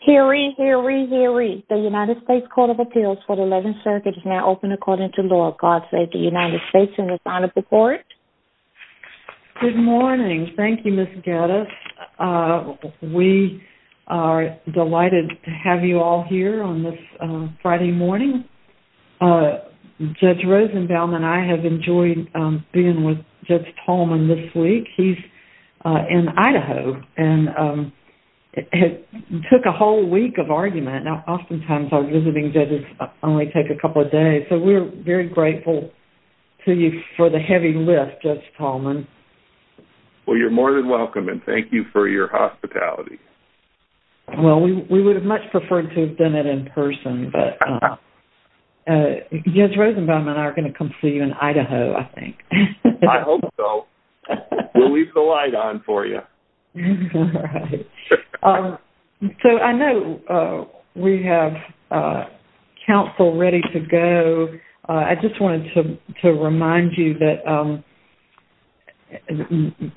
Hear ye, hear ye, hear ye. The United States Court of Appeals for the 11th Circuit is now open according to law. God save the United States and the sign of the court. Good morning. Thank you, Ms. Geddes. We are delighted to have you all here on this Friday morning. Judge Rosenbaum and I have enjoyed being with Judge Tallman this week. He's in Idaho and it took a whole week of argument. Now, oftentimes our visiting judges only take a couple of days, so we're very grateful to you for the heavy lift, Judge Tallman. Well, you're more than welcome and thank you for your hospitality. Well, we would have much preferred to have done it in person, but Judge Rosenbaum and I are going to come see you in Idaho, I think. I hope so. We'll leave the light on for you. So I know we have counsel ready to go. I just wanted to remind you that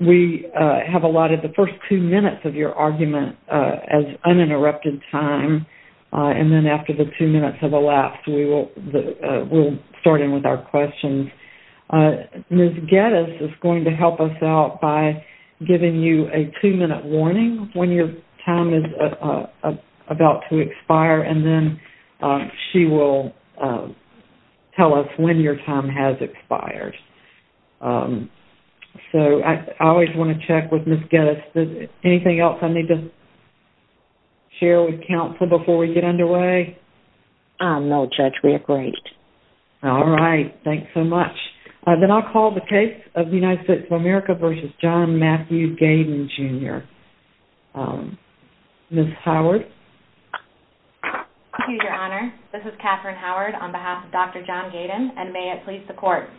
we have allotted the first two minutes of your argument as uninterrupted time. And then after the two minutes of the last, we'll start in with our questions. Ms. Geddes is going to help us out by giving you a two-minute warning when your time is about to expire and then she will tell us when your time has expired. So I always want to check with Ms. Geddes. Anything else I need to share with counsel before we get underway? No, Judge. We're great. All right. Thanks so much. Then I'll call the case of the United States of America v. John Matthew Gaydon, Jr. Ms. Howard? Thank you, Your Honor. This is Katherine Howard on behalf of Dr. John Gaydon and may it please the Court.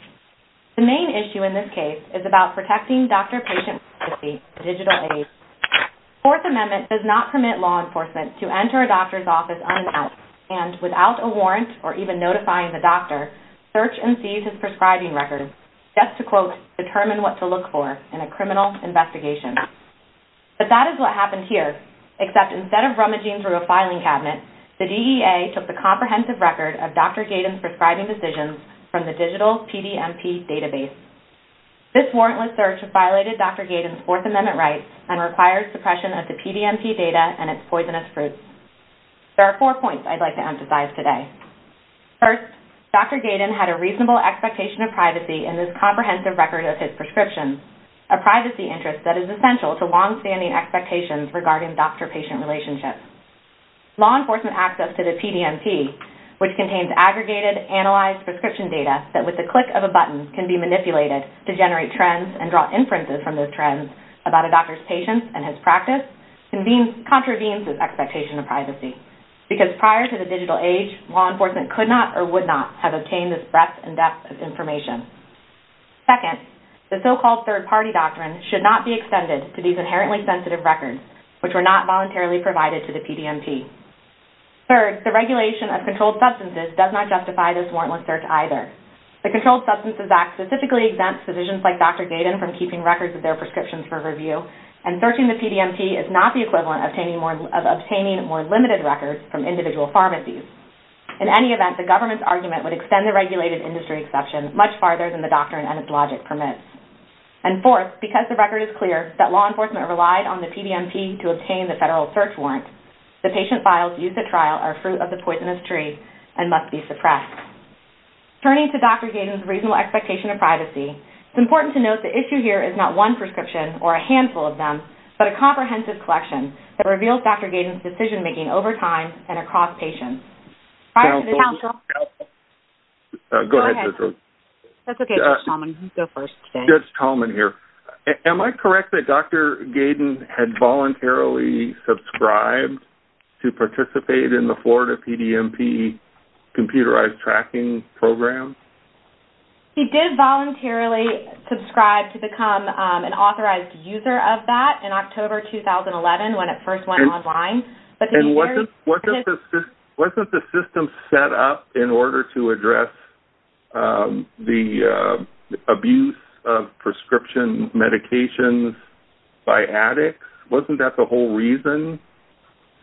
The main issue in this case is about protecting doctor-patient privacy and digital aid. Fourth Amendment does not permit law enforcement to enter a doctor's office unannounced and without a warrant or even notifying the doctor, search and seize his prescribing records just to, quote, determine what to look for in a criminal investigation. But that is what happened here, except instead of rummaging through a filing cabinet, the DEA took the comprehensive record of Dr. Gaydon's prescribing decisions from the digital PDMP database. This warrantless search has violated Dr. Gaydon's Fourth Amendment rights and requires suppression of the PDMP data and its poisonous fruits. There are four points I'd like to emphasize today. First, Dr. Gaydon had a reasonable expectation of privacy in this comprehensive record of his prescriptions, a privacy interest that is essential to longstanding expectations regarding doctor-patient relationships. Law enforcement access to the PDMP, which contains aggregated, analyzed prescription data that with the click of a button can be manipulated to generate trends and draw inferences from those trends about a doctor's patients and his practice, contravenes his expectation of privacy because prior to the digital age, law enforcement could not or would not have obtained this breadth and depth of information. Second, the so-called third-party doctrine should not be extended to these inherently sensitive records, which were not voluntarily provided to the PDMP. Third, the regulation of controlled substances does not justify this warrantless search either. The Controlled Substances Act specifically exempts physicians like Dr. Gaydon from keeping records of their prescriptions for review, and searching the PDMP is not the equivalent of obtaining more limited records from individual pharmacies. In any event, the government's argument would extend the regulated industry exception much farther than the doctrine and its logic permits. And fourth, because the record is clear that law enforcement relied on the PDMP to obtain the federal search warrant, the patient files used at trial are fruit of the poisonous tree and must be suppressed. Turning to Dr. Gaydon's reasonable expectation of privacy, it's important to note the issue here is not one prescription or a handful of them, but a comprehensive collection that reveals Dr. Gaydon's decision-making over time and across patients. Go ahead. That's okay, Judge Talman. You go first today. Judge Talman here. Am I correct that Dr. Gaydon had voluntarily subscribed to participate in the Florida PDMP computerized tracking program? He did voluntarily subscribe to become an authorized user of that in October 2011 when it first went online. And wasn't the system set up in order to address the abuse of prescription medications by addicts? Wasn't that the whole reason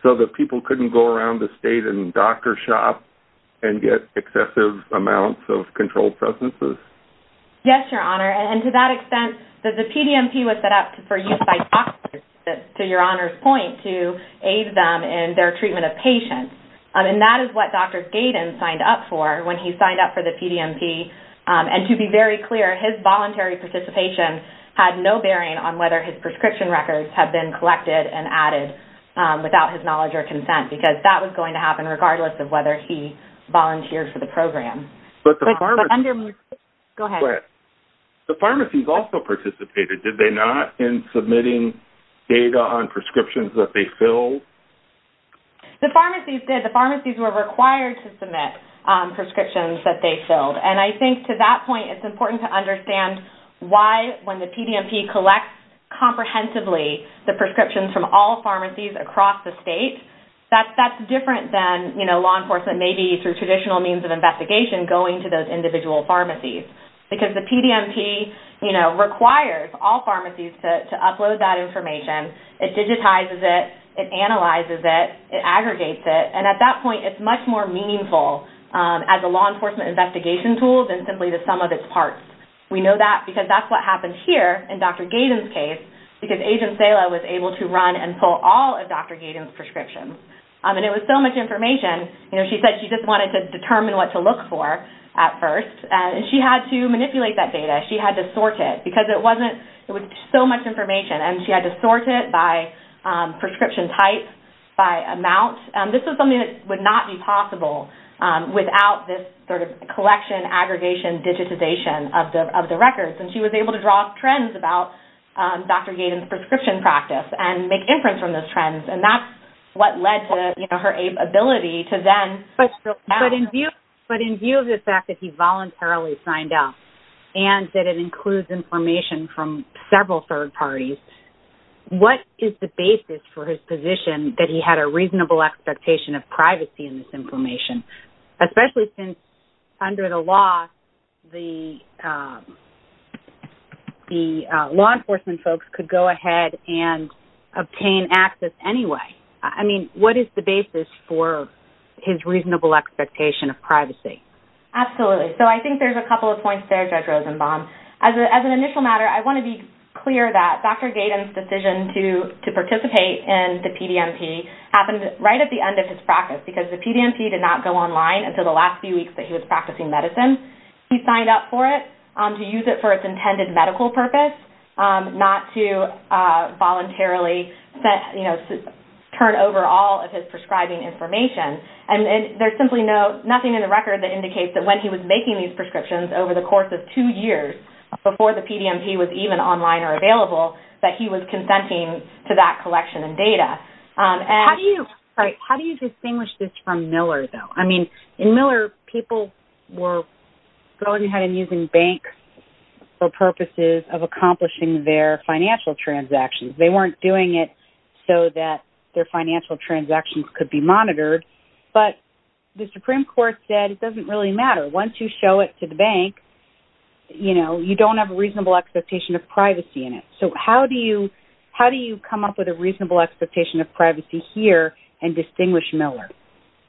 so that people couldn't go around the state and doctor shop and get excessive amounts of controlled substances? Yes, Your Honor, and to that extent, the PDMP was set up for use by doctors, to Your Honor's point, to aid them in their treatment of patients. And that is what Dr. Gaydon signed up for when he signed up for the PDMP. And to be very clear, his voluntary participation had no bearing on whether his prescription records had been collected and added without his knowledge or consent because that was going to happen regardless of whether he volunteered for the program. But the pharmacies... Go ahead. The pharmacies also participated, did they not, in submitting data on prescriptions that they filled? The pharmacies did. The pharmacies were required to submit prescriptions that they filled. And I think to that point, it's important to understand why when the PDMP collects comprehensively the prescriptions from all pharmacies across the state, that's different than, you know, law enforcement maybe through traditional means of investigation going to those individual pharmacies. Because the PDMP, you know, requires all pharmacies to upload that information. It digitizes it. It analyzes it. It aggregates it. And at that point, it's much more meaningful as a law enforcement investigation tool than simply the sum of its parts. We know that because that's what happened here in Dr. Gaydon's case because Agent Sela was able to run and pull all of Dr. Gaydon's prescriptions. And it was so much information, you know, she said she just wanted to determine what to look for at first. And she had to manipulate that data. She had to sort it because it wasn't... It was so much information and she had to sort it by prescription type, by amount. This was something that would not be possible without this sort of collection, aggregation, digitization of the records. And she was able to draw trends about Dr. Gaydon's prescription practice and make inference from those trends. And that's what led to, you know, her ability to then... But in view of the fact that he voluntarily signed up and that it includes information from several third parties, what is the basis for his position that he had a reasonable expectation of privacy in this information, especially since under the law, the law enforcement folks could go ahead and obtain access anyway? I mean, what is the basis for his reasonable expectation of privacy? Absolutely. So I think there's a couple of points there, Judge Rosenbaum. As an initial matter, I want to be clear that Dr. Gaydon's decision to participate in the PDMP happened right at the end of his practice because the PDMP did not go online until the last few weeks that he was practicing medicine. He signed up for it to use it for its intended medical purpose, not to voluntarily turn over all of his prescribing information. And there's simply nothing in the record that indicates that when he was making these prescriptions over the course of two years before the PDMP was even online or available, that he was consenting to that collection and data. How do you distinguish this from Miller, though? I mean, in Miller, people were going ahead and using banks for purposes of accomplishing their financial transactions. They weren't doing it so that their financial transactions could be monitored. But the Supreme Court said it doesn't really matter. Once you show it to the bank, you don't have a reasonable expectation of privacy in it. So how do you come up with a reasonable expectation of privacy here and distinguish Miller?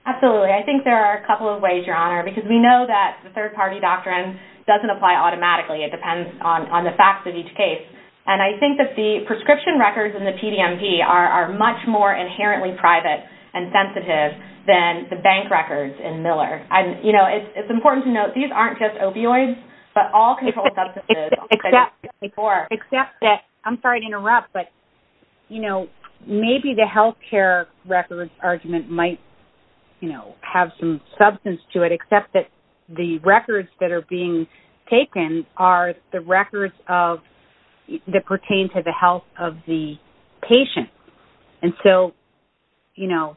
Absolutely. I think there are a couple of ways, Your Honor, because we know that the third-party doctrine doesn't apply automatically. It depends on the facts of each case. And I think that the prescription records in the PDMP are much more inherently private and sensitive than the bank records in Miller. It's important to note, these aren't just opioids, but all controlled substances. Except that, I'm sorry to interrupt, but maybe the health care records argument might have some substance to it, except that the records that are being taken are the records that pertain to the health of the patient. And so, you know,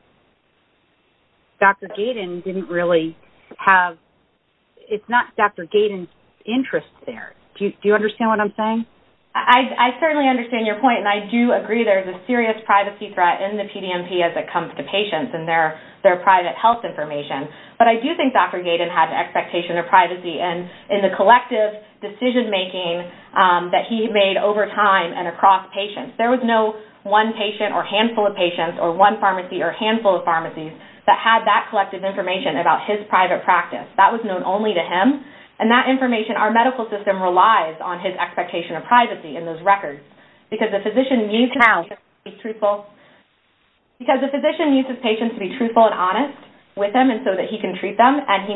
Dr. Gaydon didn't really have – it's not Dr. Gaydon's interest there. Do you understand what I'm saying? I certainly understand your point, and I do agree there's a serious privacy threat in the PDMP as it comes to patients and their private health information. But I do think Dr. Gaydon had an expectation of privacy in the collective decision-making that he made over time and across patients. There was no one patient or handful of patients or one pharmacy or handful of pharmacies that had that collective information about his private practice. That was known only to him, and that information, our medical system relies on his expectation of privacy in those records. How? Because the physician needs his patients to be truthful and honest with him so that he can treat them, and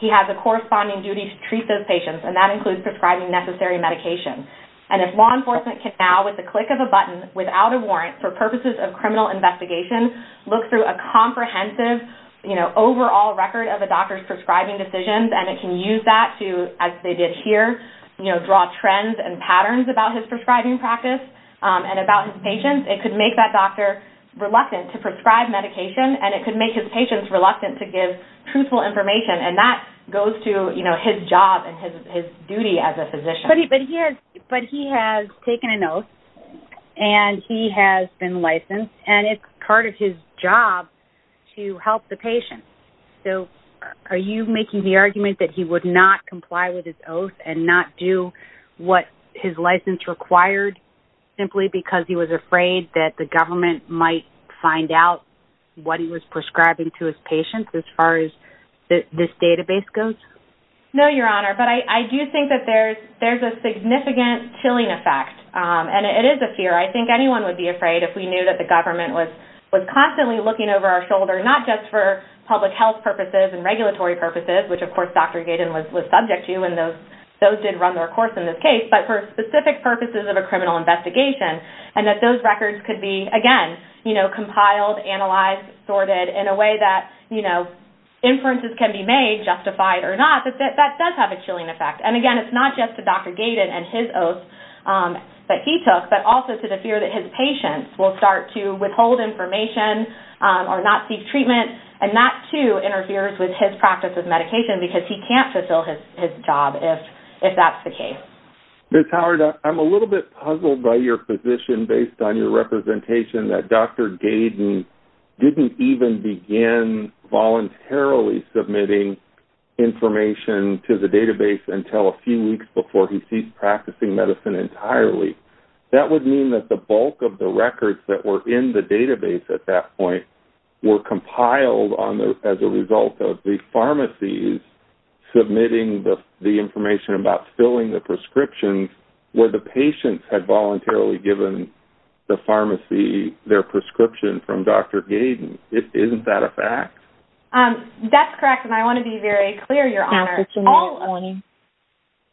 he has a corresponding duty to treat those patients, and that includes prescribing necessary medication. And if law enforcement can now, with the click of a button, without a warrant, for purposes of criminal investigation, look through a comprehensive, you know, overall record of a doctor's prescribing decisions, and it can use that to, as they did here, you know, draw trends and patterns about his prescribing practice and about his patients, it could make that doctor reluctant to prescribe medication, and it could make his patients reluctant to give truthful information. And that goes to, you know, his job and his duty as a physician. But he has taken an oath, and he has been licensed, and it's part of his job to help the patient. So are you making the argument that he would not comply with his oath and not do what his license required simply because he was afraid that the government might find out what he was prescribing to his patients as far as this database goes? No, Your Honor, but I do think that there's a significant chilling effect, and it is a fear. I think anyone would be afraid if we knew that the government was constantly looking over our shoulder, not just for public health purposes and regulatory purposes, which, of course, Dr. Gaten was subject to, and those did run their course in this case, but for specific purposes of a criminal investigation, and that those records could be, again, you know, compiled, analyzed, sorted in a way that, you know, inferences can be made, justified or not, but that does have a chilling effect. And, again, it's not just to Dr. Gaten and his oath that he took, but also to the fear that his patients will start to withhold information or not seek treatment, and that, too, interferes with his practice of medication because he can't fulfill his job if that's the case. Ms. Howard, I'm a little bit puzzled by your position based on your representation that Dr. Gaten didn't even begin voluntarily submitting information to the database until a few weeks before he ceased practicing medicine entirely. That would mean that the bulk of the records that were in the database at that point were compiled as a result of the pharmacies submitting the information about filling the prescriptions where the patients had voluntarily given the pharmacy their prescription from Dr. Gaten. Isn't that a fact? That's correct, and I want to be very clear, Your Honor.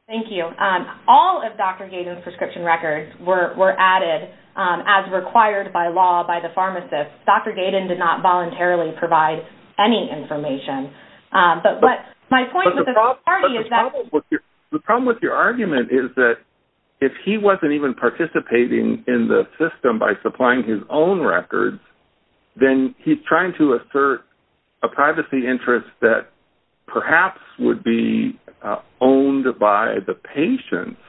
Thank you. All of Dr. Gaten's prescription records were added as required by law by the pharmacist. Dr. Gaten did not voluntarily provide any information. The problem with your argument is that if he wasn't even participating in the system by supplying his own records, then he's trying to assert a privacy interest that perhaps would be owned by the patients,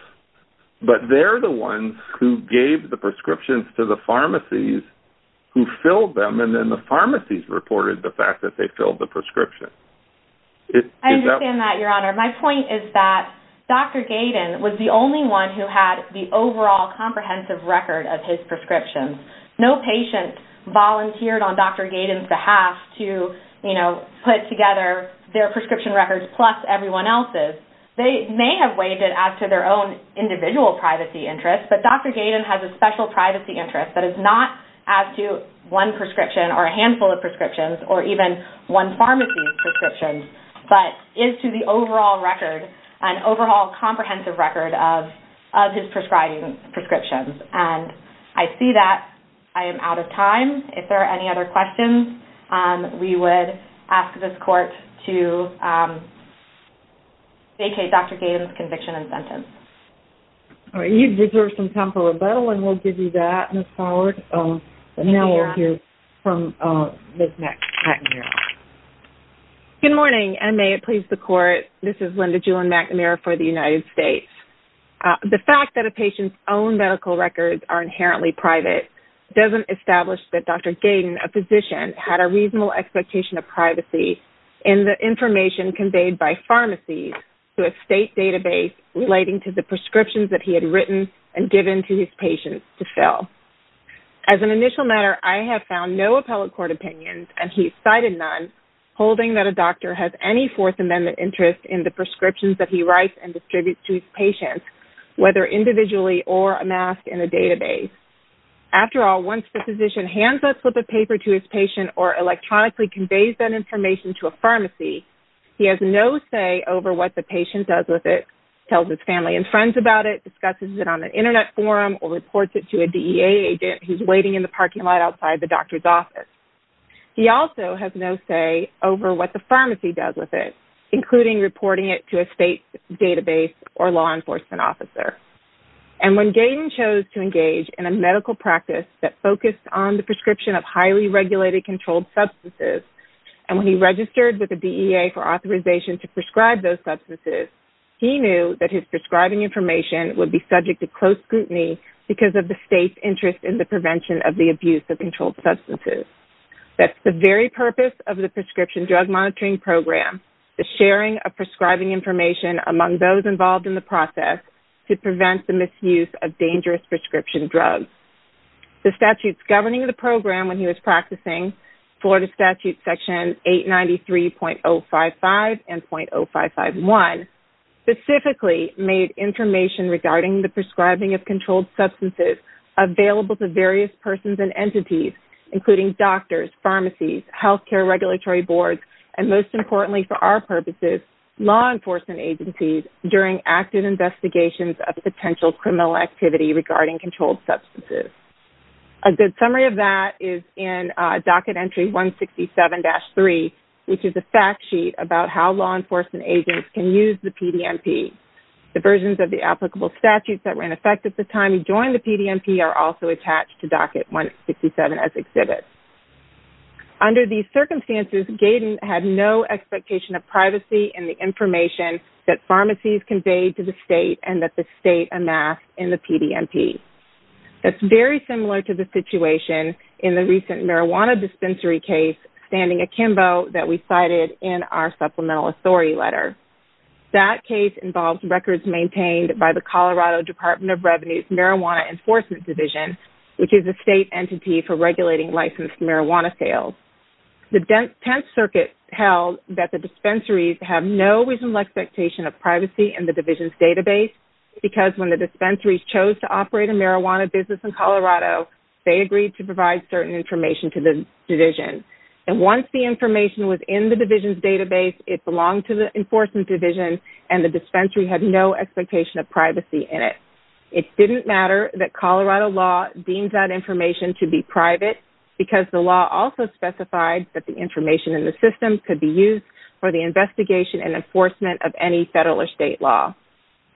but they're the ones who gave the prescriptions to the pharmacies who filled them, and then the pharmacies reported the fact that they filled the prescription. I understand that, Your Honor. My point is that Dr. Gaten was the only one who had the overall comprehensive record of his prescriptions. No patient volunteered on Dr. Gaten's behalf to put together their prescription records plus everyone else's. They may have weighed it as to their own individual privacy interest, but Dr. Gaten has a special privacy interest that is not as to one prescription or a handful of prescriptions or even one pharmacy's prescriptions, but is to the overall record, an overall comprehensive record of his prescribing prescriptions. I see that I am out of time. If there are any other questions, we would ask this Court to vacate Dr. Gaten's conviction and sentence. You deserve some time for rebuttal, and we'll give you that, Ms. Howard. Now we'll hear from Ms. McNamara. Good morning, and may it please the Court. This is Linda Julen McNamara for the United States. The fact that a patient's own medical records are inherently private doesn't establish that Dr. Gaten, a physician, had a reasonable expectation of privacy in the information conveyed by pharmacies to a state database relating to the prescriptions that he had written and given to his patients to fill. As an initial matter, I have found no appellate court opinions, and he's cited none, holding that a doctor has any Fourth Amendment interest in the prescriptions that he writes and distributes to his patients, whether individually or amassed in a database. After all, once the physician hands a slip of paper to his patient or electronically conveys that information to a pharmacy, he has no say over what the patient does with it, tells his family and friends about it, discusses it on an Internet forum, or reports it to a DEA agent who's waiting in the parking lot outside the doctor's office. He also has no say over what the pharmacy does with it, including reporting it to a state database or law enforcement officer. And when Gaten chose to engage in a medical practice that focused on the prescription of highly regulated, and when he registered with the DEA for authorization to prescribe those substances, he knew that his prescribing information would be subject to close scrutiny because of the state's interest in the prevention of the abuse of controlled substances. That's the very purpose of the Prescription Drug Monitoring Program, the sharing of prescribing information among those involved in the process to prevent the misuse of dangerous prescription drugs. The statutes governing the program when he was practicing, Florida Statute Section 893.055 and .0551, specifically made information regarding the prescribing of controlled substances available to various persons and entities, including doctors, pharmacies, health care regulatory boards, and most importantly for our purposes, law enforcement agencies during active investigations of potential criminal activity regarding controlled substances. A good summary of that is in Docket Entry 167-3, which is a fact sheet about how law enforcement agents can use the PDMP. The versions of the applicable statutes that were in effect at the time he joined the PDMP are also attached to Docket 167 as exhibits. Under these circumstances, Gaten had no expectation of privacy in the information that pharmacies conveyed to the state and that the state amassed in the PDMP. That's very similar to the situation in the recent marijuana dispensary case standing akimbo that we cited in our Supplemental Authority Letter. That case involves records maintained by the Colorado Department of Revenue's Marijuana Enforcement Division, which is a state entity for regulating licensed marijuana sales. The Tenth Circuit held that the dispensaries have no reasonable expectation of privacy in the division's database because when the dispensaries chose to operate a marijuana business in Colorado, they agreed to provide certain information to the division. And once the information was in the division's database, it belonged to the enforcement division, and the dispensary had no expectation of privacy in it. It didn't matter that Colorado law deemed that information to be private because the law also specified that the information in the system could be used for the investigation and enforcement of any federal or state law.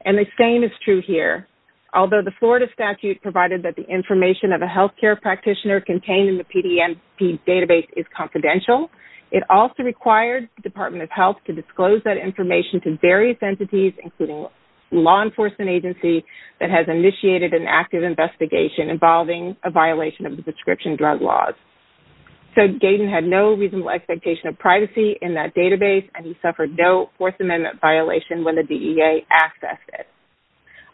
And the same is true here. Although the Florida statute provided that the information of a healthcare practitioner contained in the PDMP database is confidential, it also required the Department of Health to disclose that information to various entities, including a law enforcement agency that has initiated an active investigation involving a violation of the prescription drug laws. So Gaten had no reasonable expectation of privacy in that database, and he suffered no Fourth Amendment violation when the DEA accessed it.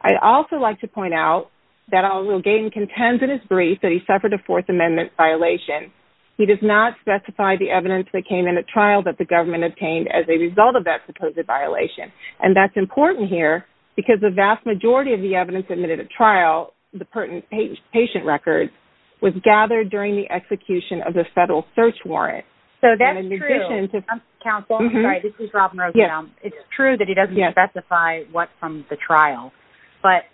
I'd also like to point out that although Gaten contends in his brief that he suffered a Fourth Amendment violation, he does not specify the evidence that came in a trial that the government obtained as a result of that supposed violation. The evidence from the trial, the patient records, was gathered during the execution of the federal search warrant. So that's true. I'm sorry, this is Robin Rose. It's true that he doesn't specify what from the trial, but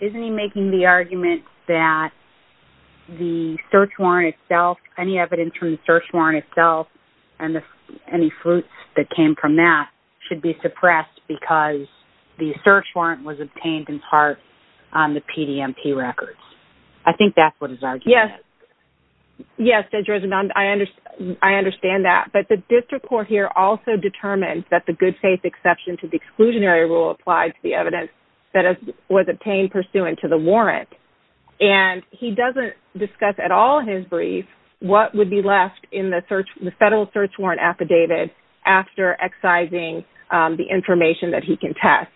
isn't he making the argument that the search warrant itself, any evidence from the search warrant itself and any fruits that came from that should be suppressed because the search warrant was obtained in part on the PDMP records? I think that's what his argument is. Yes, Judge Rosenbaum, I understand that. But the district court here also determined that the good faith exception to the exclusionary rule applied to the evidence that was obtained pursuant to the warrant. And he doesn't discuss at all in his brief what would be left in the federal search warrant after excising the information that he can test.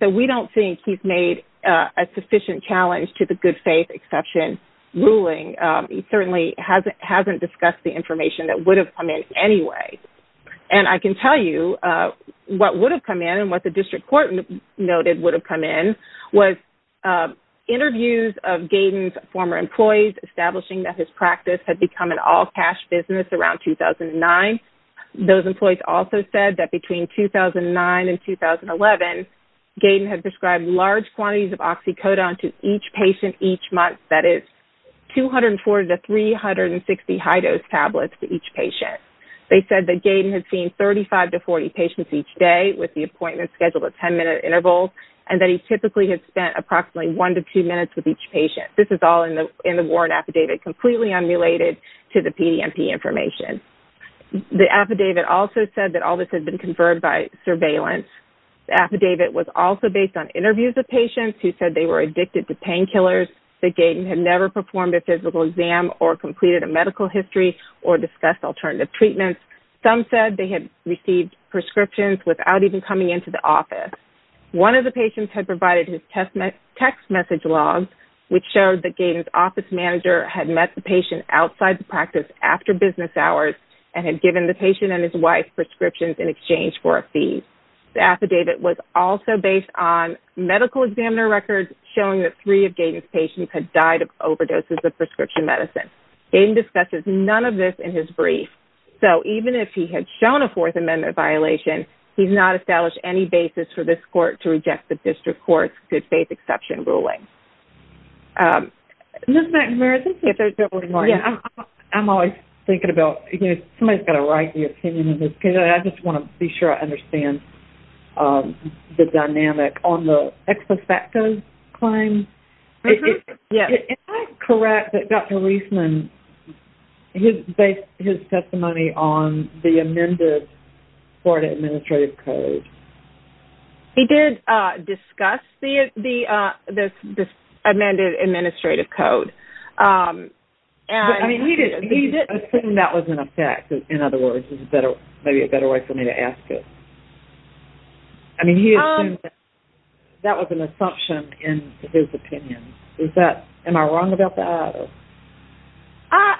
So we don't think he's made a sufficient challenge to the good faith exception ruling. He certainly hasn't discussed the information that would have come in anyway. And I can tell you what would have come in and what the district court noted would have come in was interviews of Gaydon's former employees establishing that his practice had become an all-cash business around 2009. Those employees also said that between 2009 and 2011, Gaydon had prescribed large quantities of oxycodone to each patient each month, that is 240 to 360 high-dose tablets to each patient. They said that Gaydon had seen 35 to 40 patients each day with the appointment scheduled at 10-minute intervals and that he typically had spent approximately one to two minutes with each patient. This is all in the warrant affidavit completely unrelated to the PDMP information. The affidavit also said that all this had been conferred by surveillance. The affidavit was also based on interviews of patients who said they were addicted to painkillers, that Gaydon had never performed a physical exam or completed a medical history or discussed alternative treatments. Some said they had received prescriptions without even coming into the office. One of the patients had provided his text message logs, which showed that Gaydon's office manager had met the patient outside the practice after business hours and had given the patient and his wife prescriptions in exchange for a fee. The affidavit was also based on medical examiner records showing that three of Gaydon's patients had died of overdoses of prescription medicine. Gaydon discusses none of this in his brief. So even if he had shown a Fourth Amendment violation, he's not established any basis for this court to reject the district court's good faith exception ruling. Ms. McNamara, I'm always thinking about, you know, somebody's got to write the opinion in this case. I just want to be sure I understand the dynamic. On the ex post facto claim, am I correct that Dr. Reisman based his testimony on the amended court administrative code? He did discuss the amended administrative code. I mean, he did assume that was in effect, in other words. This is maybe a better way for me to ask it. I mean, he assumed that was an assumption in his opinion. Am I wrong about that?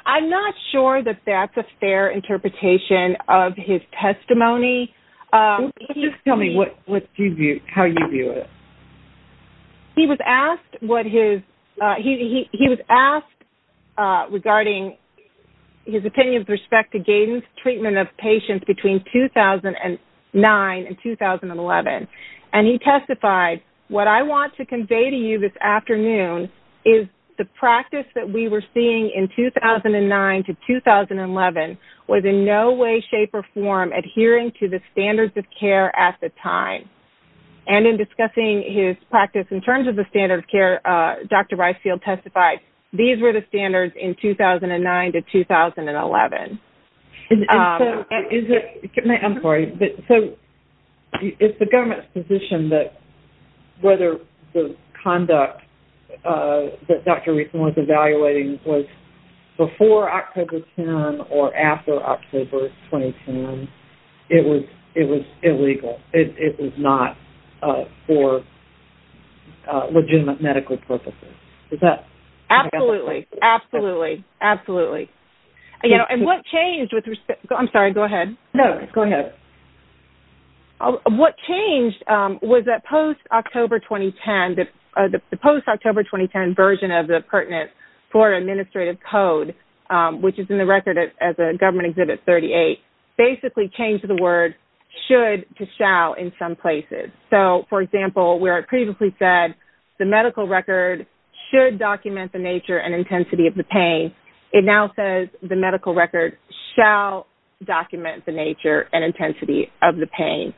I'm not sure that that's a fair interpretation of his testimony. Just tell me how you view it. He was asked regarding his opinion with respect to Gaydon's treatment of patients between 2009 and 2011. And he testified, what I want to convey to you this afternoon is the practice that we were seeing in 2009 to 2011 was in no way, shape, or form adhering to the standards of care at the time. And in discussing his practice in terms of the standard of care, Dr. Reisman testified these were the standards in 2009 to 2011. I'm sorry. So it's the government's position that whether the conduct that Dr. Reisman was evaluating was before October 10 or after October 2010, it was illegal. It was not for legitimate medical purposes. Is that? Absolutely. Absolutely. Absolutely. And what changed with respect to... I'm sorry. Go ahead. No, go ahead. What changed was that post-October 2010, the post-October 2010 version of the pertinent foreign administrative code, which is in the record as a government exhibit 38, basically changed the word should to shall in some places. So, for example, where it previously said the medical record should document the nature and intensity of the pain, it now says the medical record shall document the nature and intensity of the pain.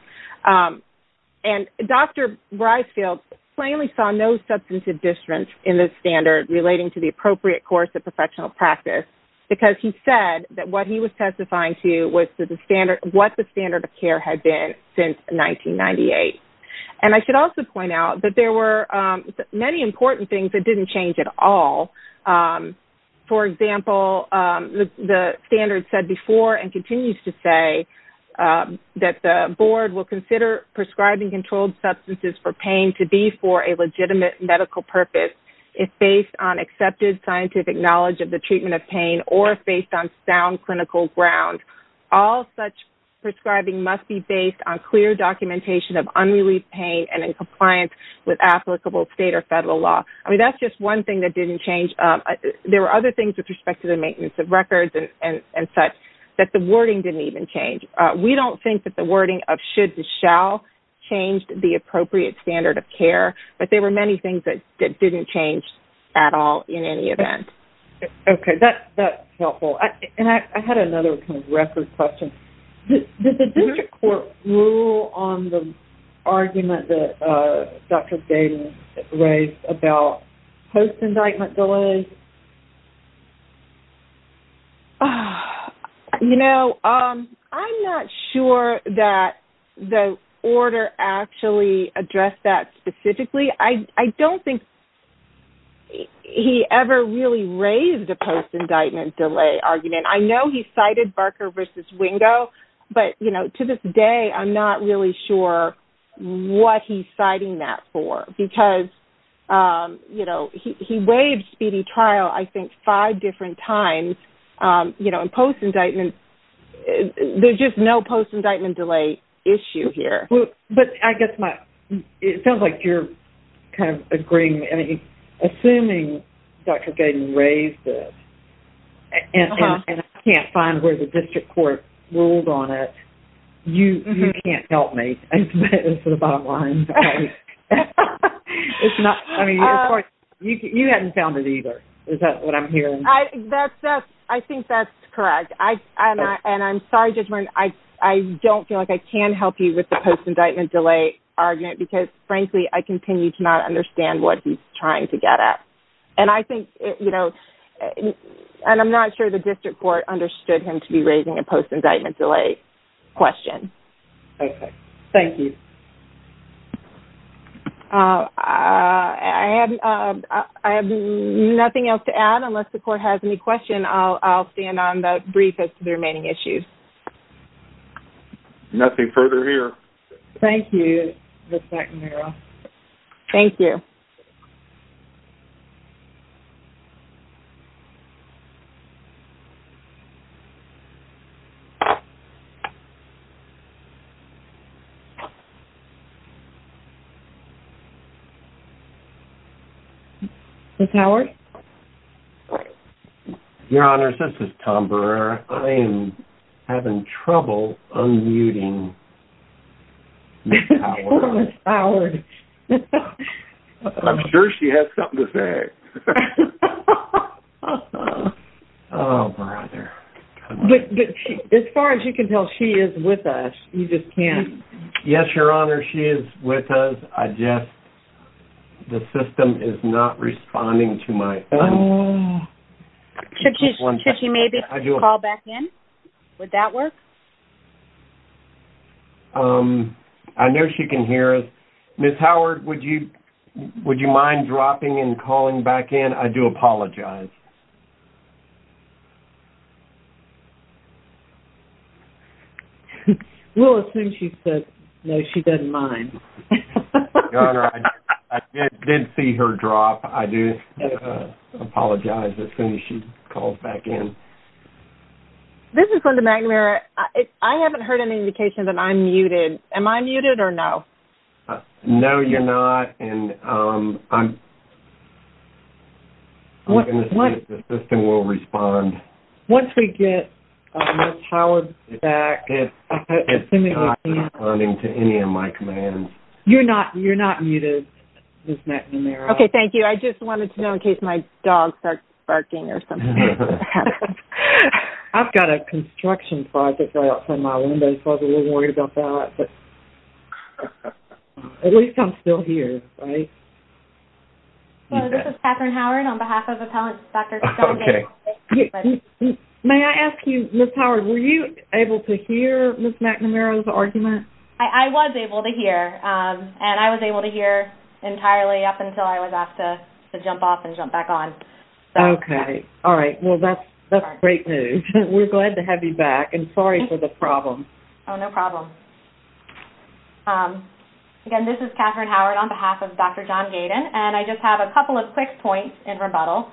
And Dr. Reisfeld plainly saw no substantive difference in the standard relating to the appropriate course of professional practice because he said that what he was testifying to was what the standard of care had been since 1998. And I should also point out that there were many important things that didn't change at all. For example, the standard said before and continues to say that the board will consider prescribing controlled substances for pain to be for a legitimate medical purpose if based on accepted scientific knowledge of the treatment of pain or if based on sound clinical ground. All such prescribing must be based on clear documentation of unrelieved pain and in compliance with applicable state or federal law. I mean, that's just one thing that didn't change. There were other things with respect to the maintenance of records and such that the wording didn't even change. We don't think that the wording of should to shall changed the appropriate standard of care, but there were many things that didn't change at all in any event. Okay, that's helpful. And I had another kind of record question. Did the district court rule on the argument that Dr. Baden raised about post-indictment delays? You know, I'm not sure that the order actually addressed that specifically. I don't think he ever really raised a post-indictment delay argument. I know he cited Barker v. Wingo, but, you know, to this day I'm not really sure what he's citing that for because, you know, he waived speedy trial I think five different times, you know, and post-indictment there's just no post-indictment delay issue here. But I guess it sounds like you're kind of agreeing. Assuming Dr. Baden raised it and I can't find where the district court ruled on it, you can't help me. That's the bottom line. You hadn't found it either. Is that what I'm hearing? I think that's correct. And I'm sorry, Judge Martin. I don't feel like I can help you with the post-indictment delay argument because, frankly, I continue to not understand what he's trying to get at. And I think, you know, and I'm not sure the district court understood him to be raising a post-indictment delay question. Okay. Thank you. I have nothing else to add unless the court has any questions. And then I'll stand on the briefest of the remaining issues. Nothing further here. Thank you, Ms. McNamara. Thank you. Ms. Howard? Your Honor, this is Tom Brewer. I am having trouble unmuting Ms. Howard. Ms. Howard. I'm sure she has something to say. Oh, brother. As far as you can tell, she is with us. You just can't. Yes, Your Honor, she is with us. I just, the system is not responding to my phone. Should she maybe call back in? Would that work? I know she can hear us. Ms. Howard, would you mind dropping and calling back in? I do apologize. Well, as soon as she says no, she doesn't mind. Your Honor, I did see her drop. I do apologize as soon as she calls back in. This is Linda McNamara. I haven't heard any indication that I'm muted. Am I muted or no? And I'm going to see if you can hear me. The system will respond. Once we get Ms. Howard back. It's not responding to any of my commands. You're not muted, Ms. McNamara. Okay, thank you. I just wanted to know in case my dog starts barking or something. I've got a construction project right outside my window, so I was a little worried about that. At least I'm still here, right? Hello, this is Katherine Howard on behalf of Appellant Dr. John Hale. May I ask you, Ms. Howard, were you able to hear Ms. McNamara's argument? I was able to hear. And I was able to hear entirely up until I was asked to jump off and jump back on. Okay. All right. Well, that's great news. We're glad to have you back. And sorry for the problem. Oh, no problem. Again, this is Katherine Howard on behalf of Dr. John Gaydon. And I just have a couple of quick points in rebuttal.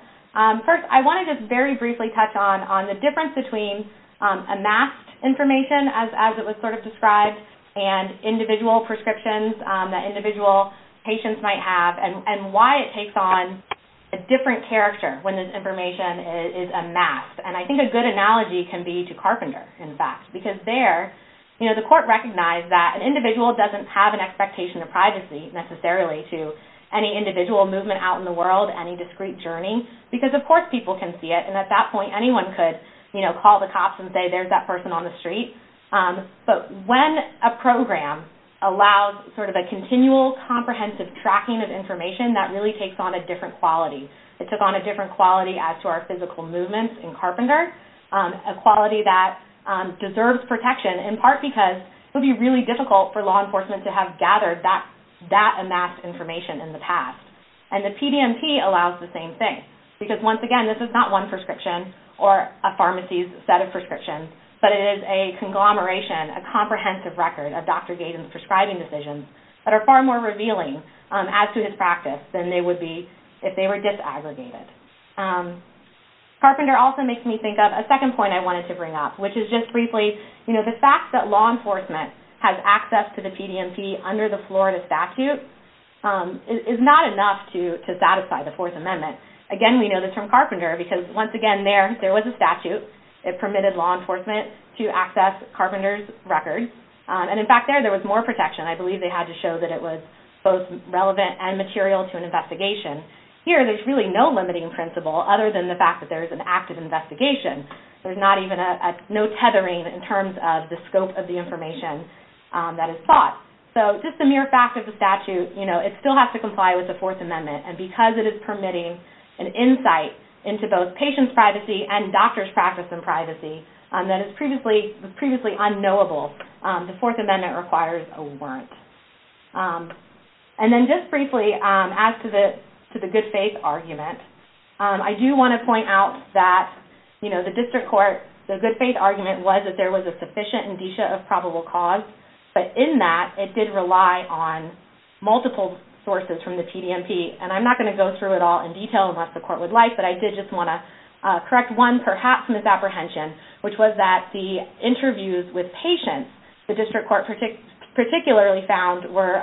First, I want to just very briefly touch on the difference between amassed information, as it was sort of described, and individual prescriptions that individual patients might have and why it takes on a different character when this information is amassed. And I think a good analogy can be to Carpenter, in fact. Because there, you know, the court recognized that an individual doesn't have an expectation of privacy, necessarily, to any individual movement out in the world, any discreet journey. Because, of course, people can see it. And at that point, anyone could, you know, call the cops and say, there's that person on the street. But when a program allows sort of a continual, comprehensive tracking of information, that really takes on a different quality. It takes on a different quality as to our physical movements in Carpenter, a quality that deserves protection, in part because it would be really difficult for law enforcement to have gathered that amassed information in the past. And the PDMP allows the same thing. Because, once again, this is not one prescription or a pharmacy's set of prescriptions, but it is a conglomeration, a comprehensive record of Dr. Gaydon's prescribing decisions that are far more revealing as to his practice than they would be if they were disaggregated. Carpenter also makes me think of a second point I wanted to bring up, which is just briefly, you know, the fact that law enforcement has access to the PDMP under the Florida statute is not enough to satisfy the Fourth Amendment. Again, we know this from Carpenter, because, once again, there, there was a statute. It permitted law enforcement to access Carpenter's records. And, in fact, there, there was more protection. I believe they had to show that it was both relevant and material to an investigation. Here, there's really no limiting principle, other than the fact that there is an active investigation. There's not even a, no tethering in terms of the scope of the information that is sought. So, just a mere fact of the statute, you know, it still has to comply with the Fourth Amendment. And because it is permitting an insight into both patients' privacy and doctors' practice in privacy that is previously, was previously unknowable, the Fourth Amendment requires a warrant. And then, just briefly, as to the, to the good faith argument, I do want to point out that, you know, the district court, the good faith argument was that there was a sufficient indicia of probable cause, but in that, it did rely on multiple sources from the PDMP. And I'm not going to go through it all in detail, unless the court would like, but I did just want to correct one, perhaps, misapprehension, which was that the interviews with patients, the district court particularly found were,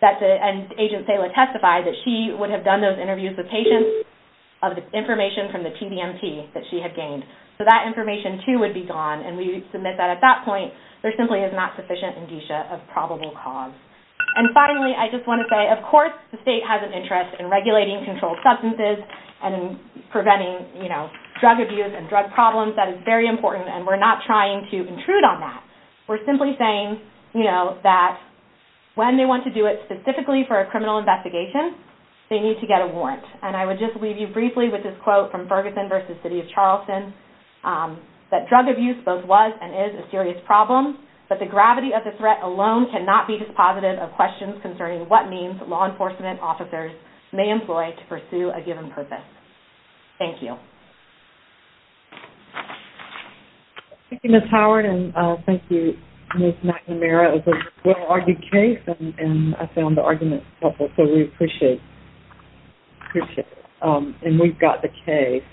that the, and Agent Sala testified that she would have done those interviews with patients of the information from the PDMP that she had gained. So, that information, too, would be gone, and we submit that at that point, there simply is not sufficient indicia of probable cause. And finally, I just want to say, of course, the state has an interest in regulating controlled substances and in preventing, you know, drug abuse and drug problems. That is very important, and we're not trying to intrude on that. We're simply saying, you know, that when they want to do it specifically for a criminal investigation, they need to get a warrant. And I would just leave you briefly with this quote from Ferguson v. City of Charleston, that drug abuse both was and is a serious problem, but the gravity of the threat alone cannot be dispositive of questions concerning what means law enforcement officers may employ to pursue a given purpose. Thank you. Thank you, Ms. Howard, and thank you, Ms. McNamara. It was a well-argued case, and I found the arguments helpful, so we appreciate it. Appreciate it. And we've got the case.